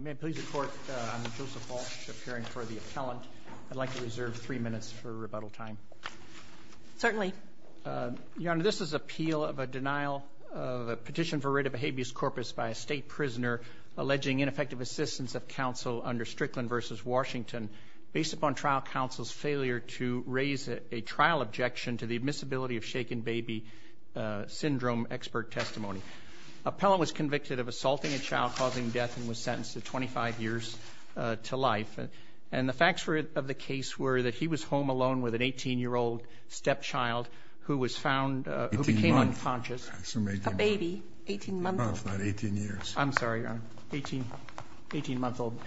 May I please report, I'm Joseph Walsh, appearing for the appellant. I'd like to reserve three minutes for rebuttal time. Certainly. Your Honor, this is appeal of a denial of a petition for writ of habeas corpus by a state prisoner alleging ineffective assistance of counsel under Strickland v. Washington based upon trial counsel's failure to raise a trial objection to the admissibility of shaken baby syndrome expert testimony. Appellant was convicted of assaulting a child causing death and was sentenced to 25 years to life. And the facts of the case were that he was home alone with an 18-year-old stepchild who was found who became unconscious. A baby, 18 months old. No, it's not 18 years. I'm sorry, Your Honor, 18-month-old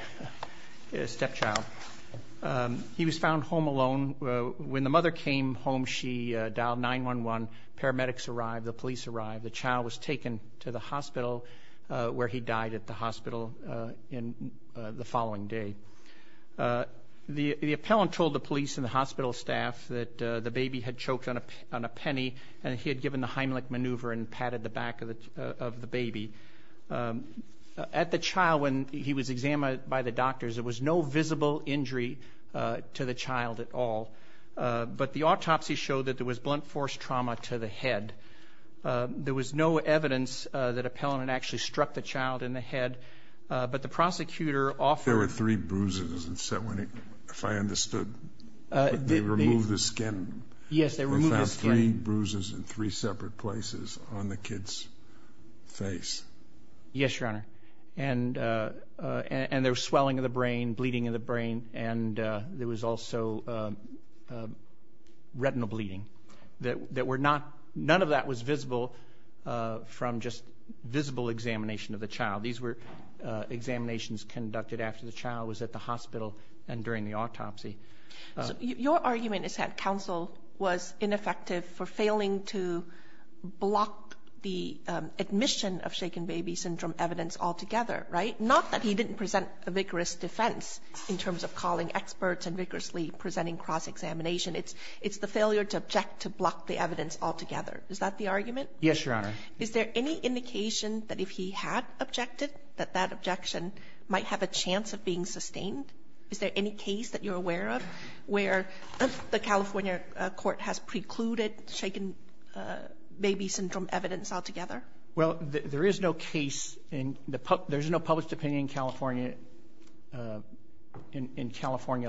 stepchild. He was found home alone. When the mother came home, she dialed 911. Paramedics arrived. The police arrived. The child was taken to the hospital where he died at the hospital the following day. The appellant told the police and the hospital staff that the baby had choked on a penny and he had given the Heimlich maneuver and patted the back of the baby. At the child, when he was examined by the doctors, there was no visible injury to the child at all. But the autopsy showed that there was blunt force trauma to the head. There was no evidence that appellant had actually struck the child in the head. But the prosecutor offered There were three bruises, if I understood. They removed the skin. Yes, they removed the skin. They found three bruises in three separate places on the kid's face. Yes, Your Honor. And there was swelling of the brain, bleeding of the brain, and there was also retinal bleeding. None of that was visible from just visible examination of the child. These were examinations conducted after the child was at the hospital and during the autopsy. Your argument is that counsel was ineffective for failing to block the admission of shaken baby syndrome evidence altogether, right? Not that he didn't present a vigorous defense in terms of calling experts and vigorously presenting cross-examination. It's the failure to object to block the evidence altogether. Is that the argument? Yes, Your Honor. Is there any indication that if he had objected, that that objection might have a chance of being sustained? Is there any case that you're aware of where the California court has precluded shaken baby syndrome evidence altogether? Well, there is no case. There's no published opinion in California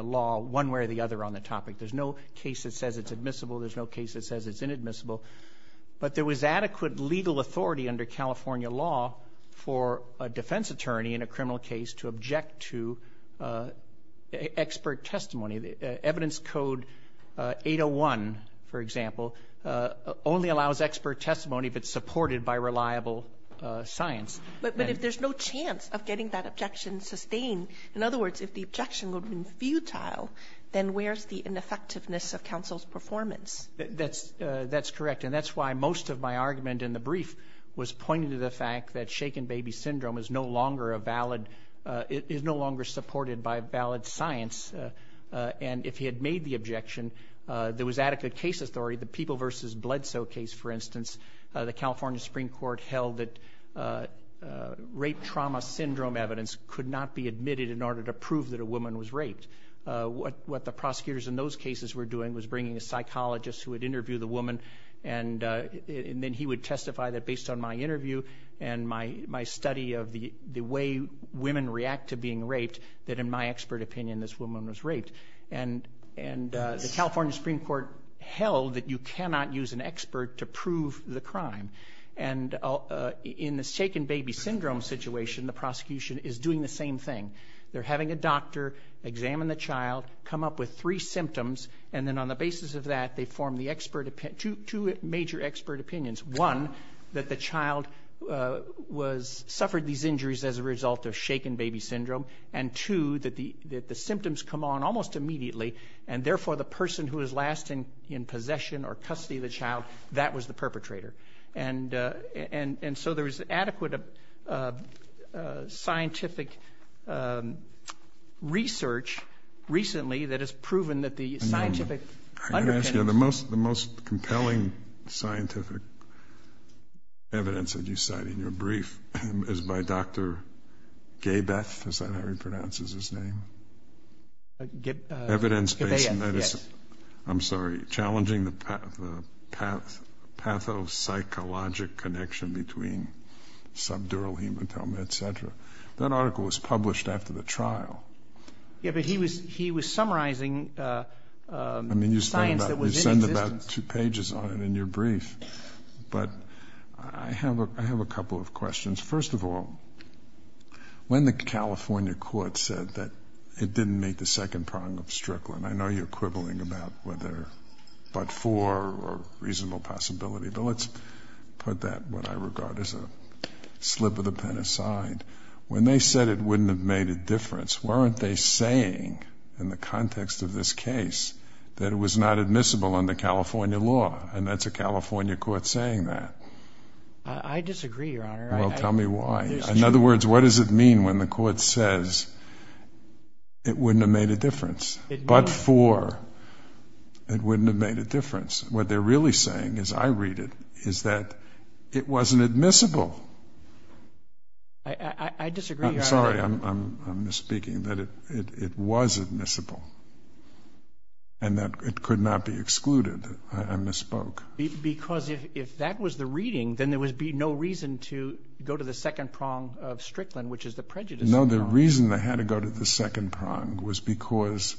law one way or the other on the topic. There's no case that says it's admissible. There's no case that says it's inadmissible. But there was adequate legal authority under California law for a defense attorney in a criminal case to object to expert testimony. Evidence code 801, for example, only allows expert testimony if it's supported by reliable science. But if there's no chance of getting that objection sustained, in other words, if the objection would have been futile, then where's the ineffectiveness of counsel's performance? That's correct. And that's why most of my argument in the brief was pointing to the fact that shaken baby syndrome is no longer a valid – is no longer supported by valid science. And if he had made the objection, there was adequate case authority. The People v. Bledsoe case, for instance, the California Supreme Court held that rape trauma syndrome evidence could not be admitted in order to prove that a woman was raped. What the prosecutors in those cases were doing was bringing a psychologist who would interview the woman, and then he would testify that based on my interview and my study of the way women react to being raped, and the California Supreme Court held that you cannot use an expert to prove the crime. And in the shaken baby syndrome situation, the prosecution is doing the same thing. They're having a doctor examine the child, come up with three symptoms, and then on the basis of that, they form the expert – two major expert opinions. One, that the child was – suffered these injuries as a result of shaken baby syndrome, and two, that the symptoms come on almost immediately, and therefore the person who is last in possession or custody of the child, that was the perpetrator. And so there is adequate scientific research recently that has proven that the scientific underpinnings – Yeah, the most compelling scientific evidence that you cite in your brief is by Dr. Gebeth, is that how he pronounces his name? Gebeth, yes. I'm sorry. Challenging the pathopsychologic connection between subdural hematoma, et cetera. That article was published after the trial. Yeah, but he was summarizing science that was in existence. I mean, you send about two pages on it in your brief. But I have a couple of questions. First of all, when the California court said that it didn't meet the second prong of Strickland, I know you're quibbling about whether but for or reasonable possibility, but let's put that, what I regard as a slip of the pen aside. When they said it wouldn't have made a difference, weren't they saying in the context of this case that it was not admissible under California law? And that's a California court saying that. I disagree, Your Honor. Well, tell me why. In other words, what does it mean when the court says it wouldn't have made a difference but for? It wouldn't have made a difference. What they're really saying, as I read it, is that it wasn't admissible. I disagree, Your Honor. I'm sorry. I'm misspeaking. That it was admissible and that it could not be excluded. I misspoke. Because if that was the reading, then there would be no reason to go to the second prong of Strickland, which is the prejudice prong. No, the reason they had to go to the second prong was because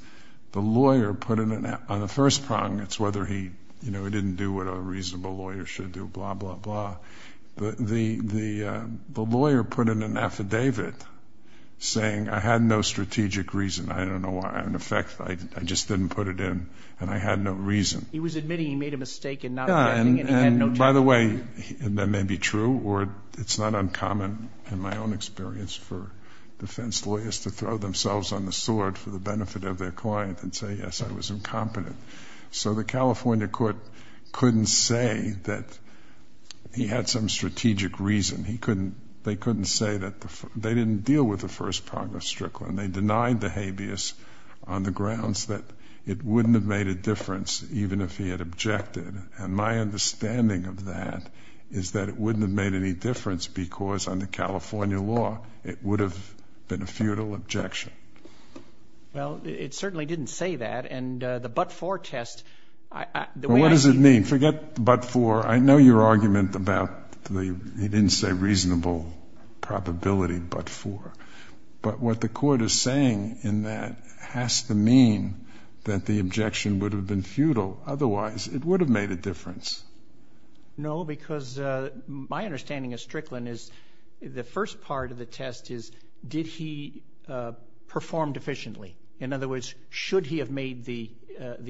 the lawyer put it on the first prong. It's whether he, you know, he didn't do what a reasonable lawyer should do, blah, blah, blah. The lawyer put in an affidavit saying I had no strategic reason. I don't know why. In effect, I just didn't put it in and I had no reason. He was admitting he made a mistake in not defending and he had no judgment. By the way, that may be true or it's not uncommon in my own experience for defense lawyers to throw themselves on the sword for the benefit of their client and say, yes, I was incompetent. So the California court couldn't say that he had some strategic reason. They couldn't say that they didn't deal with the first prong of Strickland. They denied the habeas on the grounds that it wouldn't have made a difference even if he had objected. And my understanding of that is that it wouldn't have made any difference because under California law it would have been a futile objection. Well, it certainly didn't say that. And the but-for test, the way I see it. Well, what does it mean? Forget but-for. I know your argument about he didn't say reasonable probability but-for. But what the court is saying in that has to mean that the objection would have been futile. Otherwise, it would have made a difference. No, because my understanding of Strickland is the first part of the test is did he perform deficiently? In other words, should he have made the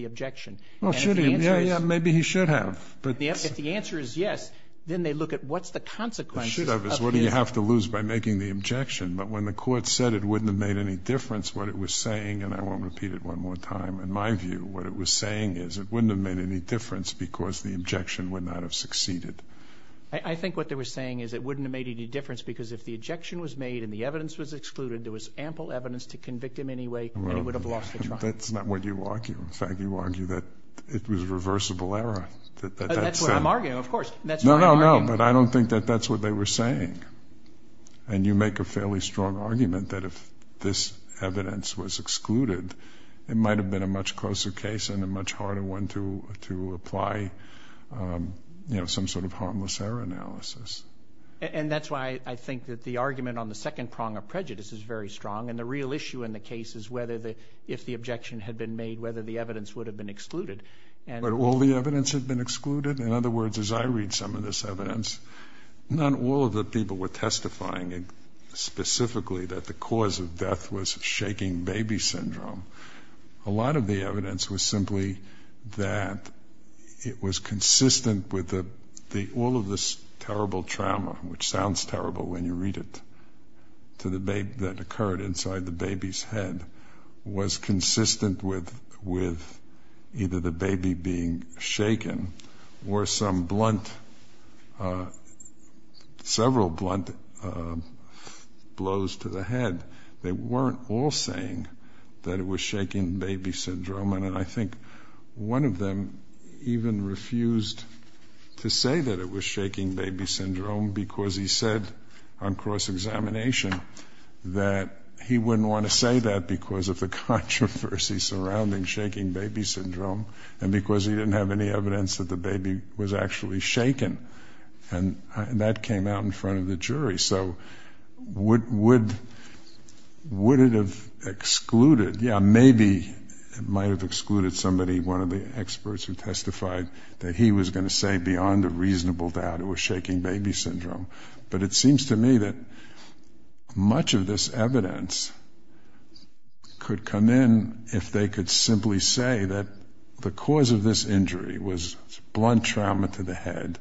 objection? Well, should he? Yeah, yeah. Maybe he should have. If the answer is yes, then they look at what's the consequences of his. Should have is what do you have to lose by making the objection. But when the court said it wouldn't have made any difference, what it was saying, and I won't repeat it one more time, in my view, what it was saying is it wouldn't have made any difference because the objection would not have succeeded. I think what they were saying is it wouldn't have made any difference because if the That's not what you argue. In fact, you argue that it was a reversible error. That's what I'm arguing, of course. No, no, no. But I don't think that that's what they were saying. And you make a fairly strong argument that if this evidence was excluded, it might have been a much closer case and a much harder one to apply some sort of harmless error analysis. And that's why I think that the argument on the second prong of prejudice is very strong. And the real issue in the case is whether if the objection had been made, whether the evidence would have been excluded. But all the evidence had been excluded? In other words, as I read some of this evidence, not all of the people were testifying specifically that the cause of death was shaking baby syndrome. A lot of the evidence was simply that it was consistent with all of this terrible trauma, which sounds terrible when you read it, that occurred inside the baby's head, was consistent with either the baby being shaken or some blunt, several blunt blows to the head. They weren't all saying that it was shaking baby syndrome. And I think one of them even refused to say that it was shaking baby syndrome because he said on cross-examination that he wouldn't want to say that because of the controversy surrounding shaking baby syndrome and because he didn't have any evidence that the baby was actually shaken. And that came out in front of the jury. So would it have excluded? Yeah, maybe it might have excluded somebody, one of the experts who testified that he was going to say beyond a reasonable doubt it was shaking baby syndrome. But it seems to me that much of this evidence could come in if they could simply say that the cause of this injury was blunt trauma to the head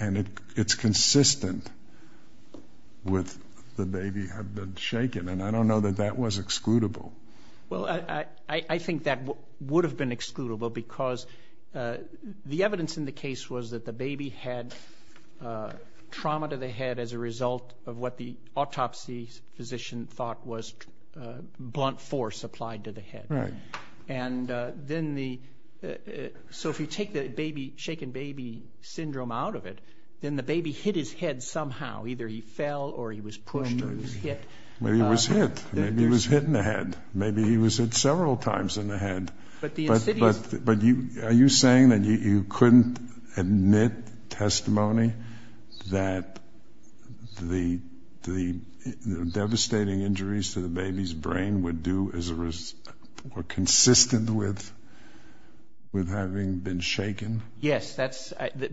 and it's consistent with the baby had been shaken. And I don't know that that was excludable. Well, I think that would have been excludable because the evidence in the case was that the baby had trauma to the head as a result of what the autopsy physician thought was blunt force applied to the head. Right. So if you take the shaken baby syndrome out of it, then the baby hit his head somehow. Either he fell or he was pushed or he was hit. Maybe he was hit. Maybe he was hit in the head. Maybe he was hit several times in the head. But are you saying that you couldn't admit testimony that the devastating injuries to the baby's brain were consistent with having been shaken? Yes,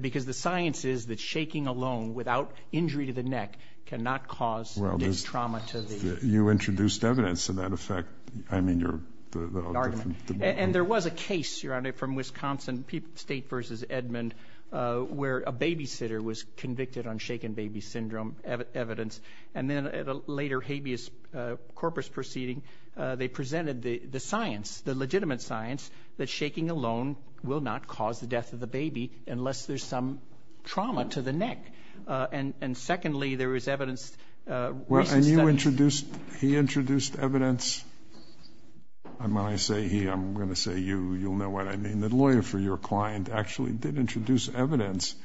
because the science is that shaking alone without injury to the neck cannot cause this trauma to the head. You introduced evidence to that effect. I mean, the argument. And there was a case, Your Honor, from Wisconsin State v. Edmond where a babysitter was convicted on shaken baby syndrome evidence. And then at a later habeas corpus proceeding, they presented the science, the legitimate science that shaking alone will not cause the death of the baby unless there's some trauma to the neck. And secondly, there was evidence. Well, and you introduced, he introduced evidence. When I say he, I'm going to say you. You'll know what I mean. The lawyer for your client actually did introduce evidence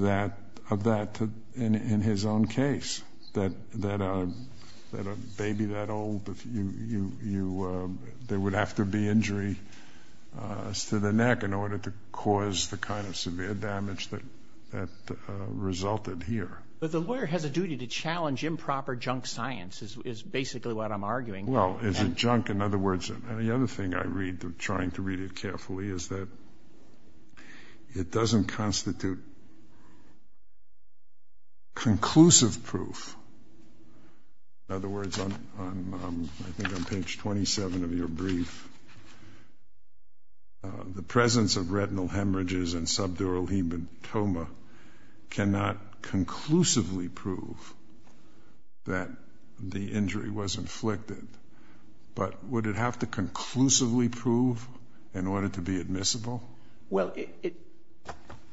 of that in his own case, that a baby that old, there would have to be injury to the neck in order to cause the kind of severe damage that resulted here. But the lawyer has a duty to challenge improper junk science is basically what I'm arguing. Well, is it junk? In other words, the other thing I read, trying to read it carefully, is that it doesn't constitute conclusive proof. In other words, I think on page 27 of your brief, the presence of retinal hemorrhages and subdural hematoma cannot conclusively prove that the injury was inflicted. But would it have to conclusively prove in order to be admissible? Well,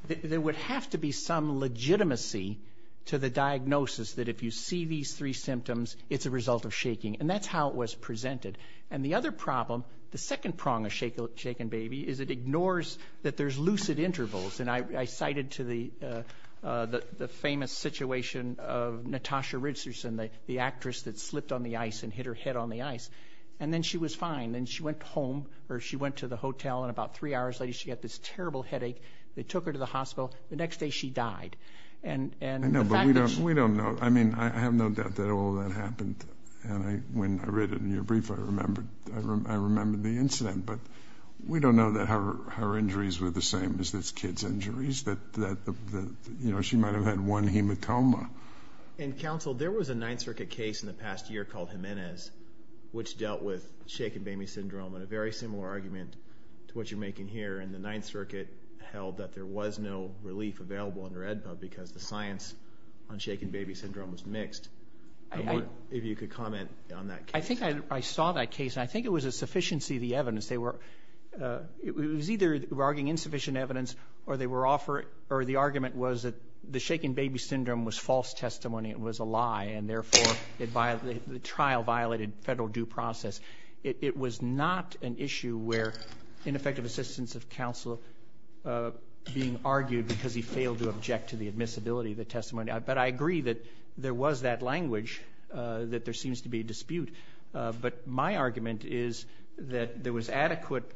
there would have to be some legitimacy to the diagnosis that if you see these three symptoms, it's a result of shaking. And that's how it was presented. And the other problem, the second prong of shaken baby, is it ignores that there's lucid intervals. And I cited to the famous situation of Natasha Richardson, the actress that slipped on the ice and hit her head on the ice, and then she was fine. Then she went home, or she went to the hotel, and about three hours later she got this terrible headache. They took her to the hospital. The next day she died. No, but we don't know. I mean, I have no doubt that all of that happened. And when I read it in your brief, I remembered the incident. But we don't know that her injuries were the same as this kid's injuries, that she might have had one hematoma. And, counsel, there was a Ninth Circuit case in the past year called Jimenez, which dealt with shaken baby syndrome and a very similar argument to what you're making here. And the Ninth Circuit held that there was no relief available under AEDPA because the science on shaken baby syndrome was mixed. If you could comment on that case. I think I saw that case, and I think it was a sufficiency of the evidence. It was either arguing insufficient evidence, or the argument was that the shaken baby syndrome was false testimony, it was a lie, and, therefore, the trial violated federal due process. It was not an issue where ineffective assistance of counsel being argued because he failed to object to the admissibility of the testimony. But I agree that there was that language, that there seems to be a dispute. But my argument is that there was adequate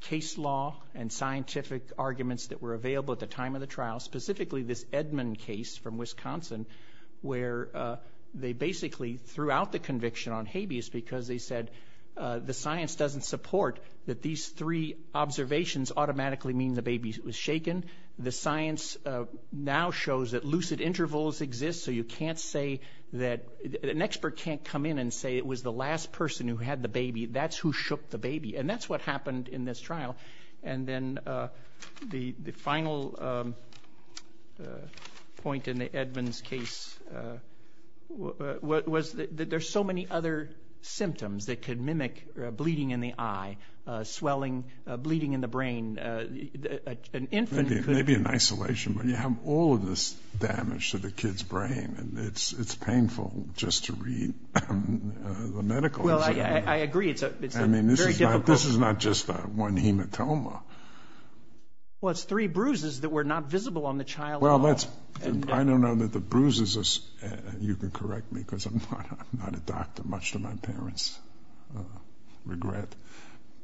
case law and scientific arguments that were available at the time of the trial, specifically this Edmond case from Wisconsin, where they basically threw out the conviction on habeas because they said the science doesn't support that these three observations automatically mean the baby was shaken. The science now shows that lucid intervals exist, so you can't say that an expert can't come in and say it was the last person who had the baby. That's who shook the baby, and that's what happened in this trial. And then the final point in Edmond's case was that there's so many other symptoms that could mimic bleeding in the eye, swelling, bleeding in the brain. Maybe in isolation, but you have all of this damage to the kid's brain, and it's painful just to read the medical exam. Well, I agree. It's very difficult. I mean, this is not just one hematoma. Well, it's three bruises that were not visible on the child at all. I don't know that the bruises are, you can correct me because I'm not a doctor. Much to my parents' regret.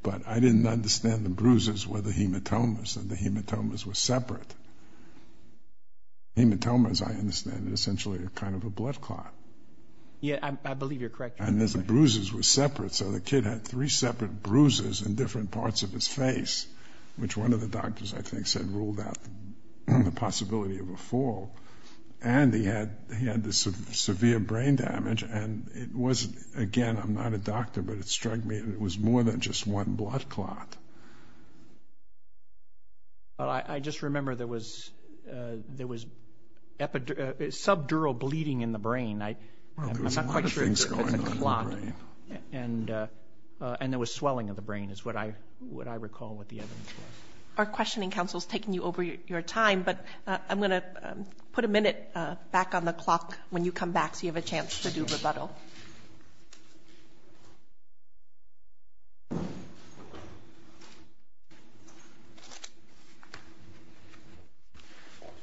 But I didn't understand the bruises were the hematomas, and the hematomas were separate. Hematomas, I understand, are essentially kind of a blood clot. Yeah, I believe you're correct. And the bruises were separate, so the kid had three separate bruises in different parts of his face, which one of the doctors, I think, said ruled out the possibility of a fall. And he had this severe brain damage, and it wasn't, again, I'm not a doctor, but it struck me that it was more than just one blood clot. I just remember there was subdural bleeding in the brain. I'm not quite sure if it was a clot. And there was swelling of the brain is what I recall what the evidence was. Our questioning counsel is taking you over your time, but I'm going to put a minute back on the clock when you come back so you have a chance to do rebuttal.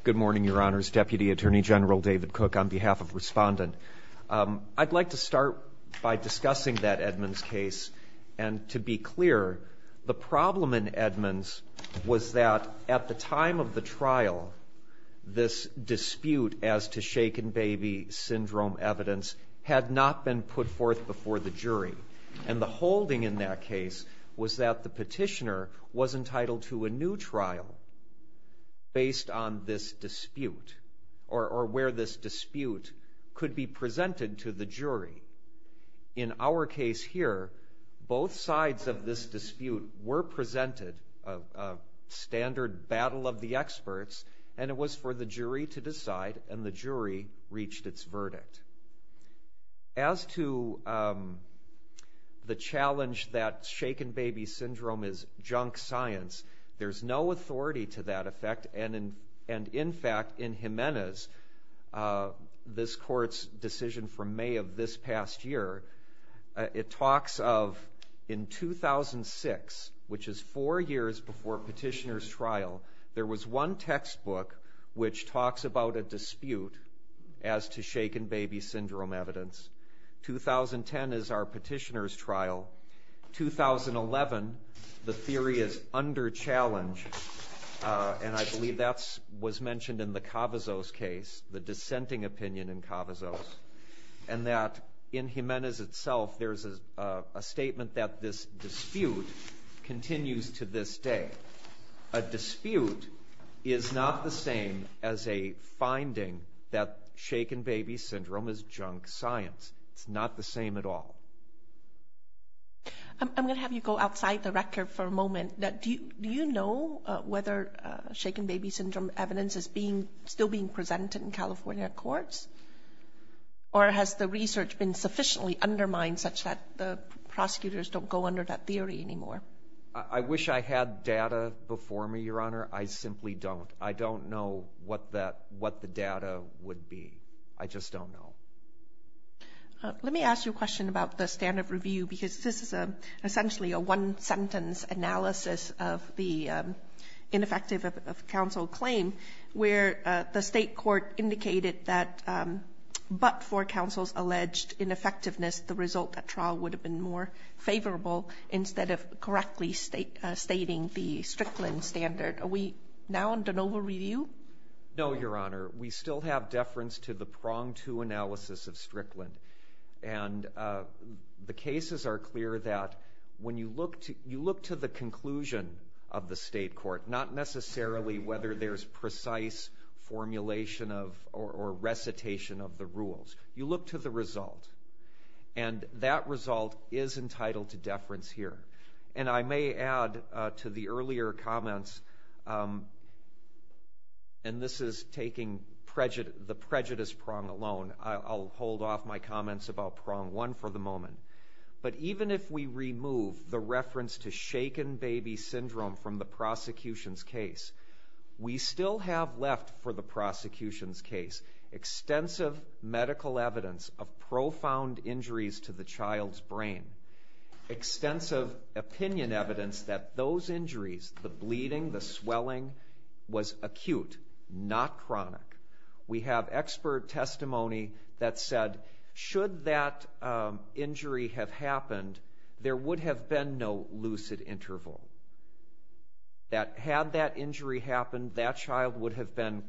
Good morning, Your Honors. Deputy Attorney General David Cook, on behalf of Respondent. I'd like to start by discussing that Edmonds case. And to be clear, the problem in Edmonds was that at the time of the trial, this dispute as to shaken baby syndrome evidence had not been put forth before the jury. And the holding in that case was that the petitioner was entitled to a new trial based on this dispute or where this dispute could be presented to the jury. In our case here, both sides of this dispute were presented a standard battle of the experts, and it was for the jury to decide, and the jury reached its verdict. As to the challenge that shaken baby syndrome is junk science, there's no authority to that effect. And in fact, in Jimenez, this court's decision from May of this past year, it talks of in 2006, which is four years before petitioner's trial, there was one textbook which talks about a dispute as to shaken baby syndrome evidence. In 2011, the theory is under challenge, and I believe that was mentioned in the Cavazos case, the dissenting opinion in Cavazos, and that in Jimenez itself, there's a statement that this dispute continues to this day. A dispute is not the same as a finding that shaken baby syndrome is junk science. It's not the same at all. I'm going to have you go outside the record for a moment. Do you know whether shaken baby syndrome evidence is still being presented in California courts, or has the research been sufficiently undermined such that the prosecutors don't go under that theory anymore? I wish I had data before me, Your Honor. I simply don't. I don't know what the data would be. I just don't know. Let me ask you a question about the standard review, because this is essentially a one-sentence analysis of the ineffective counsel claim, where the state court indicated that but for counsel's alleged ineffectiveness, the result at trial would have been more favorable instead of correctly stating the Strickland standard. Are we now in de novo review? No, Your Honor. We still have deference to the pronged-to analysis of Strickland, and the cases are clear that when you look to the conclusion of the state court, not necessarily whether there's precise formulation or recitation of the rules, you look to the result, and that result is entitled to deference here. And I may add to the earlier comments, and this is taking the prejudice prong alone. I'll hold off my comments about prong one for the moment. But even if we remove the reference to shaken baby syndrome from the prosecution's case, we still have left for the prosecution's case extensive medical evidence of profound injuries to the child's brain, extensive opinion evidence that those injuries, the bleeding, the swelling, was acute, not chronic. We have expert testimony that said should that injury have happened, there would have been no lucid interval, that had that injury happened, that child would have been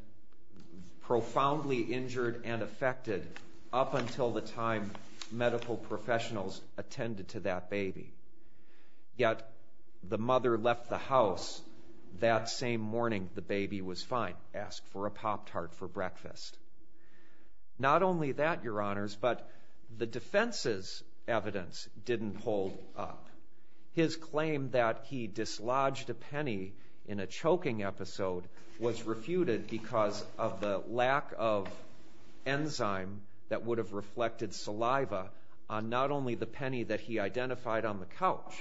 profoundly injured and affected up until the time medical professionals attended to that baby. Yet the mother left the house that same morning the baby was fine, asked for a Pop-Tart for breakfast. Not only that, Your Honors, but the defense's evidence didn't hold up. His claim that he dislodged a penny in a choking episode was refuted because of the lack of enzyme that would have reflected saliva on not only the penny that he identified on the couch,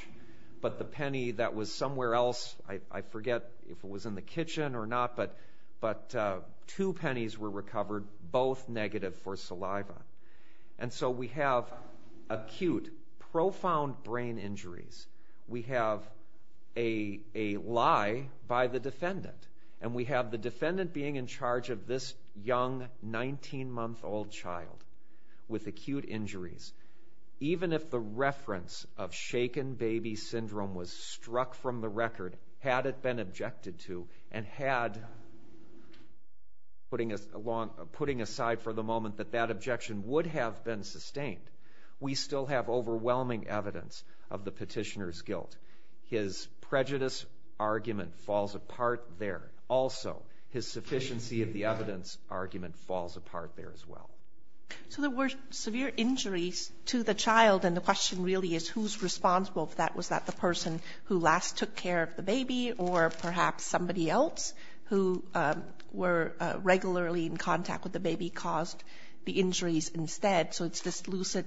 but the penny that was somewhere else, I forget if it was in the kitchen or not, but two pennies were recovered, both negative for saliva. And so we have acute, profound brain injuries. We have a lie by the defendant, and we have the defendant being in charge of this young, 19-month-old child with acute injuries. Even if the reference of shaken baby syndrome was struck from the record, had it been objected to, and had, putting aside for the moment, that that objection would have been sustained, we still have overwhelming evidence of the petitioner's guilt. His prejudice argument falls apart there. Also, his sufficiency of the evidence argument falls apart there as well. So there were severe injuries to the child, and the question really is who's responsible for that? Was that the person who last took care of the baby or perhaps somebody else who were regularly in contact with the baby caused the injuries instead? So it's this lucid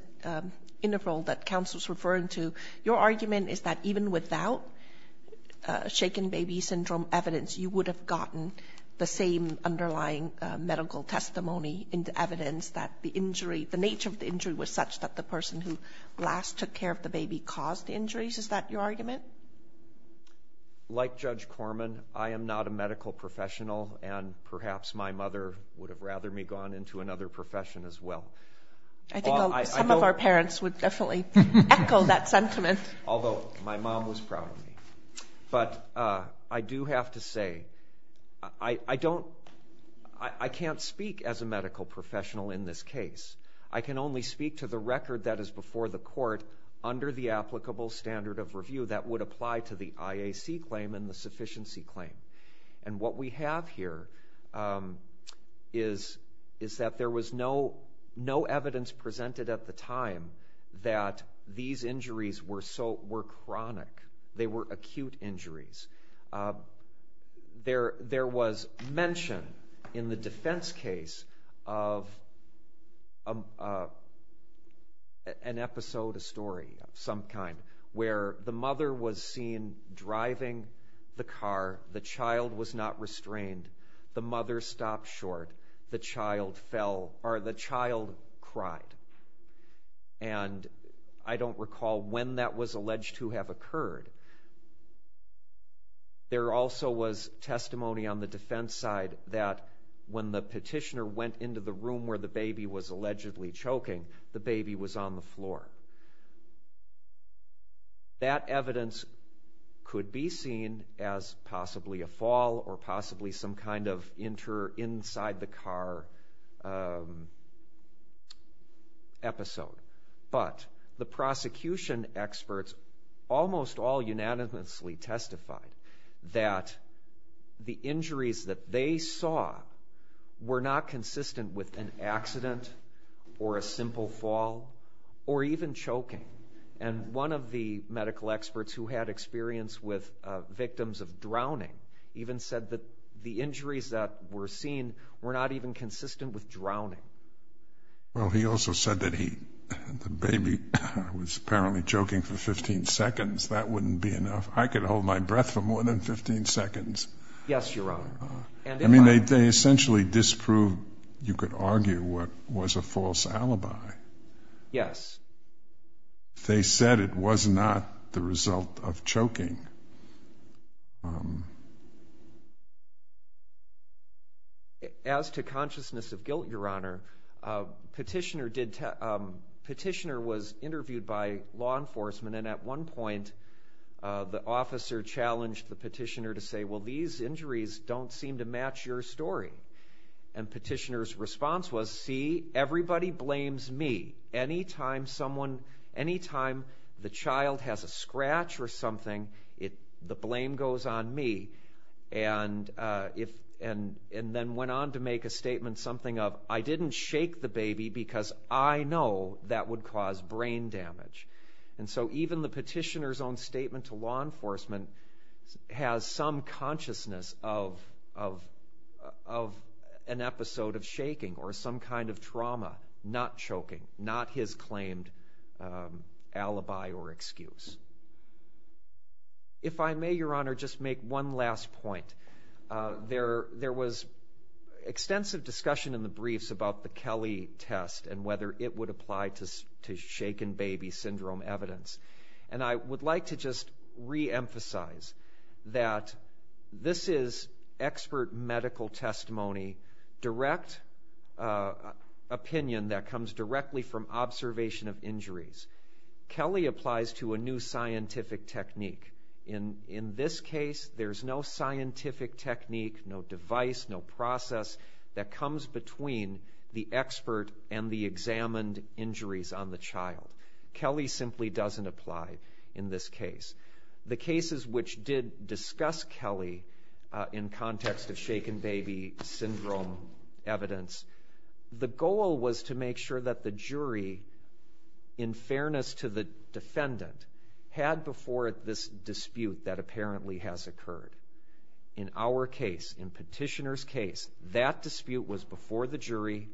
interval that counsel is referring to. Your argument is that even without shaken baby syndrome evidence, you would have gotten the same underlying medical testimony into evidence that the injury, the nature of the injury was such that the person who last took care of the baby caused the injuries. Is that your argument? Like Judge Corman, I am not a medical professional, and perhaps my mother would have rather me gone into another profession as well. I think some of our parents would definitely echo that sentiment. Although my mom was proud of me. But I do have to say I can't speak as a medical professional in this case. I can only speak to the record that is before the court under the applicable standard of review that would apply to the IAC claim and the sufficiency claim. And what we have here is that there was no evidence presented at the time that these injuries were chronic. They were acute injuries. There was mention in the defense case of an episode, a story of some kind, where the mother was seen driving the car. The child was not restrained. The mother stopped short. The child cried. And I don't recall when that was alleged to have occurred. There also was testimony on the defense side that when the petitioner went into the room where the baby was allegedly choking, the baby was on the floor. That evidence could be seen as possibly a fall or possibly some kind of inter-inside-the-car episode. But the prosecution experts almost all unanimously testified that the injuries that they saw were not consistent with an accident or a simple fall or even choking. And one of the medical experts who had experience with victims of drowning even said that the injuries that were seen were not even consistent with drowning. Well, he also said that the baby was apparently choking for 15 seconds. That wouldn't be enough. I could hold my breath for more than 15 seconds. Yes, Your Honor. I mean, they essentially disproved, you could argue, what was a false alibi. Yes. They said it was not the result of choking. As to consciousness of guilt, Your Honor, petitioner was interviewed by law enforcement, and at one point the officer challenged the petitioner to say, well, these injuries don't seem to match your story. And petitioner's response was, see, everybody blames me. Anytime the child has a scratch or something, the blame goes on me. And then went on to make a statement something of, I didn't shake the baby because I know that would cause brain damage. And so even the petitioner's own statement to law enforcement has some consciousness of an episode of shaking or some kind of trauma, not choking, not his claimed alibi or excuse. If I may, Your Honor, just make one last point. There was extensive discussion in the briefs about the Kelly test and whether it would apply to shaken baby syndrome evidence. And I would like to just reemphasize that this is expert medical testimony, direct opinion that comes directly from observation of injuries. Kelly applies to a new scientific technique. In this case, there's no scientific technique, no device, no process, that comes between the expert and the examined injuries on the child. Kelly simply doesn't apply in this case. The cases which did discuss Kelly in context of shaken baby syndrome evidence, the goal was to make sure that the jury, in fairness to the defendant, had before it this dispute that apparently has occurred. In our case, in petitioner's case, that dispute was before the jury,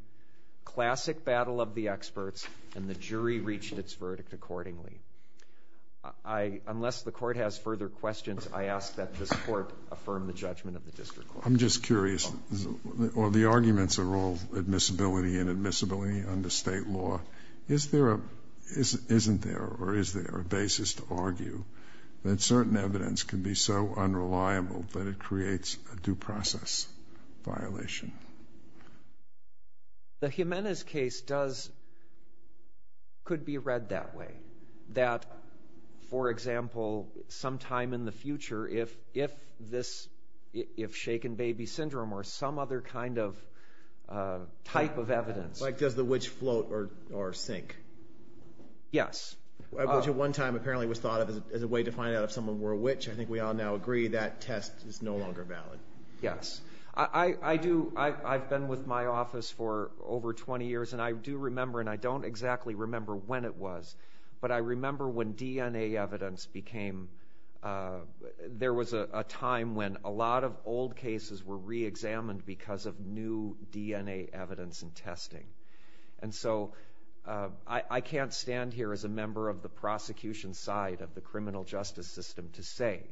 classic battle of the experts, and the jury reached its verdict accordingly. Unless the court has further questions, I ask that this court affirm the judgment of the district court. I'm just curious. The arguments are all admissibility and admissibility under state law. Isn't there or is there a basis to argue that certain evidence can be so unreliable that it creates a due process violation? The Jimenez case could be read that way, that, for example, sometime in the future, if shaken baby syndrome or some other kind of type of evidence. Like does the witch float or sink? Yes. Which at one time apparently was thought of as a way to find out if someone were a witch. I think we all now agree that test is no longer valid. Yes. I've been with my office for over 20 years, and I do remember, and I don't exactly remember when it was, but I remember when DNA evidence became, there was a time when a lot of old cases were reexamined because of new DNA evidence and testing. And so I can't stand here as a member of the prosecution side of the criminal justice system to say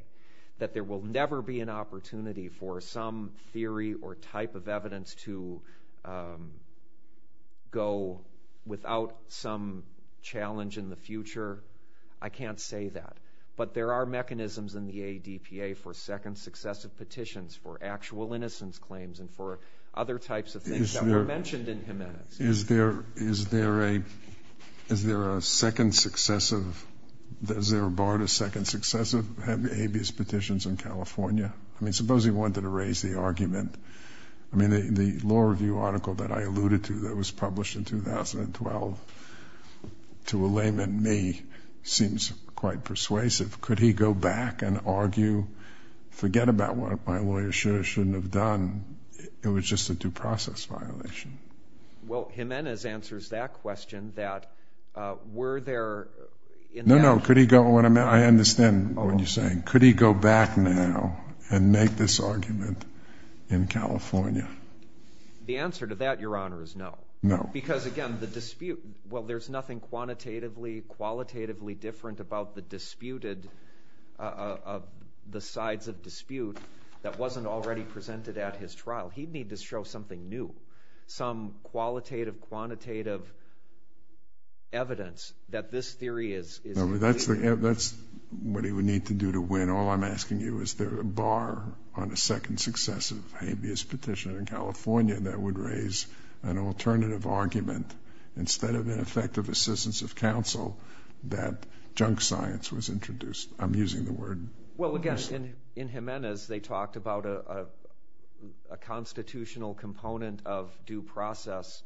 that there will never be an opportunity for some theory or type of evidence to go without some challenge in the future. I can't say that. But there are mechanisms in the ADPA for second successive petitions, for actual innocence claims, and for other types of things that were mentioned in Jimenez. Is there a second successive, is there a bar to second successive of habeas petitions in California? I mean, suppose you wanted to raise the argument, I mean, the law review article that I alluded to that was published in 2012, to a layman, me, seems quite persuasive. Could he go back and argue, forget about what my lawyer should or shouldn't have done? It was just a due process violation. Well, Jimenez answers that question, that were there in that... No, no, could he go, I understand what you're saying. Could he go back now and make this argument in California? The answer to that, Your Honor, is no. No. Because, again, the dispute, well, there's nothing quantitatively, qualitatively different about the disputed, the sides of dispute that wasn't already presented at his trial. He'd need to show something new, some qualitative, quantitative evidence that this theory is... That's what he would need to do to win. And all I'm asking you, is there a bar on a second successive habeas petition in California that would raise an alternative argument, instead of ineffective assistance of counsel, that junk science was introduced? I'm using the word. Well, again, in Jimenez, they talked about a constitutional component of due process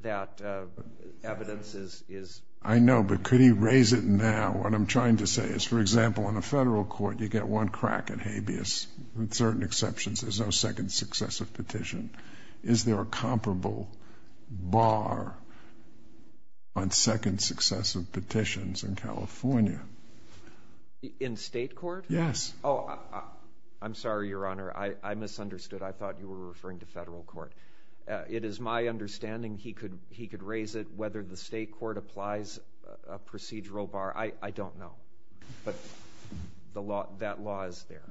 that evidence is... I know, but could he raise it now? What I'm trying to say is, for example, in a federal court, you get one crack at habeas. With certain exceptions, there's no second successive petition. Is there a comparable bar on second successive petitions in California? In state court? Yes. Oh, I'm sorry, Your Honor, I misunderstood. I thought you were referring to federal court. It is my understanding he could raise it, whether the state court applies a procedural bar. I don't know, but that law is there.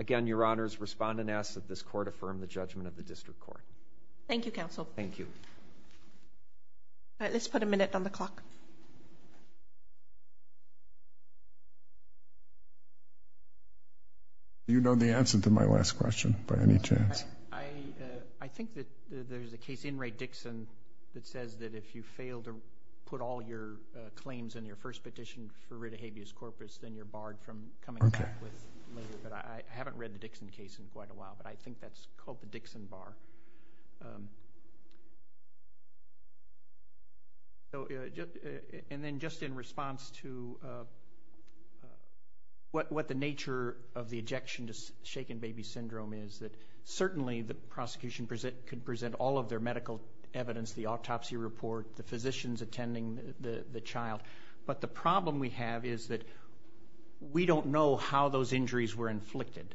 Again, Your Honor's respondent asks that this court affirm the judgment of the district court. Thank you, Counsel. Thank you. All right, let's put a minute on the clock. Do you know the answer to my last question, by any chance? I think that there's a case in Ray Dixon that says that if you fail to put all your claims in your first petition for writ of habeas corpus, then you're barred from coming back later. But I haven't read the Dixon case in quite a while, but I think that's called the Dixon bar. And then just in response to what the nature of the ejection to shaken baby syndrome is, that certainly the prosecution could present all of their medical evidence, the autopsy report, the physicians attending the child. But the problem we have is that we don't know how those injuries were inflicted.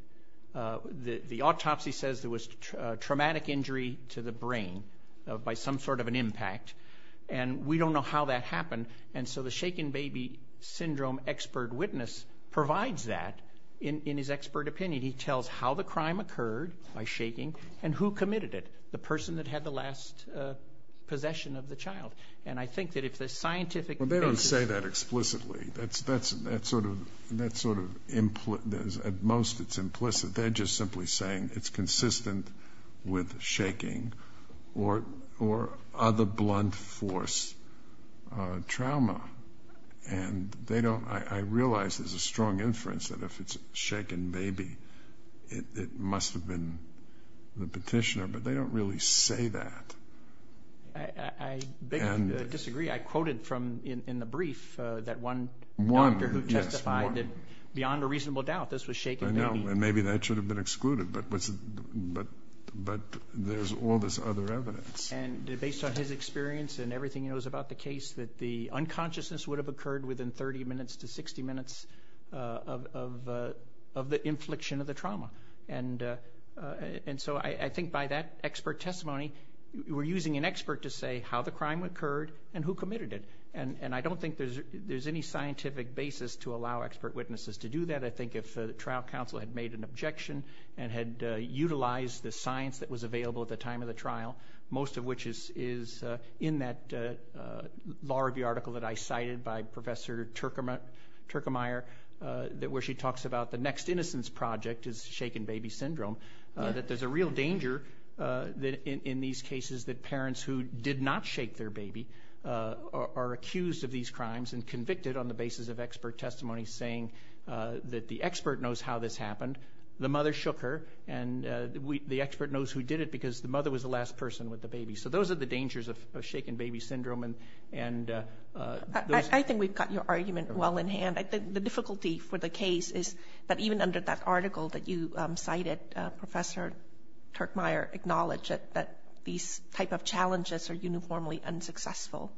The autopsy says there was traumatic injury to the brain by some sort of an impact, and we don't know how that happened. And so the shaken baby syndrome expert witness provides that in his expert opinion. He tells how the crime occurred, by shaking, and who committed it, the person that had the last possession of the child. And I think that if the scientific basis- Well, they don't say that explicitly. That's sort of implicit. At most it's implicit. They're just simply saying it's consistent with shaking or other blunt force trauma. And I realize there's a strong inference that if it's shaken baby, it must have been the petitioner, but they don't really say that. I disagree. I quoted in the brief that one doctor who testified that beyond a reasonable doubt this was shaken baby. I know, and maybe that should have been excluded, but there's all this other evidence. And based on his experience and everything he knows about the case, that the unconsciousness would have occurred within 30 minutes to 60 minutes of the infliction of the trauma. And so I think by that expert testimony, we're using an expert to say how the crime occurred and who committed it. And I don't think there's any scientific basis to allow expert witnesses to do that. I think if the trial counsel had made an objection and had utilized the science that was available at the time of the trial, most of which is in that law review article that I cited by Professor Turkemire, where she talks about the next innocence project is shaken baby syndrome, that there's a real danger in these cases that parents who did not shake their baby are accused of these crimes and convicted on the basis of expert testimony saying that the expert knows how this happened. The mother shook her, and the expert knows who did it because the mother was the last person with the baby. So those are the dangers of shaken baby syndrome. I think we've got your argument well in hand. I think the difficulty for the case is that even under that article that you cited, Professor Turkemire acknowledged that these type of challenges are uniformly unsuccessful.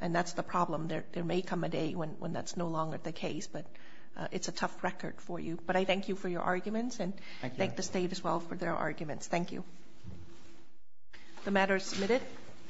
And that's the problem. There may come a day when that's no longer the case, but it's a tough record for you. But I thank you for your arguments and thank the state as well for their arguments. Thank you. The matter is submitted.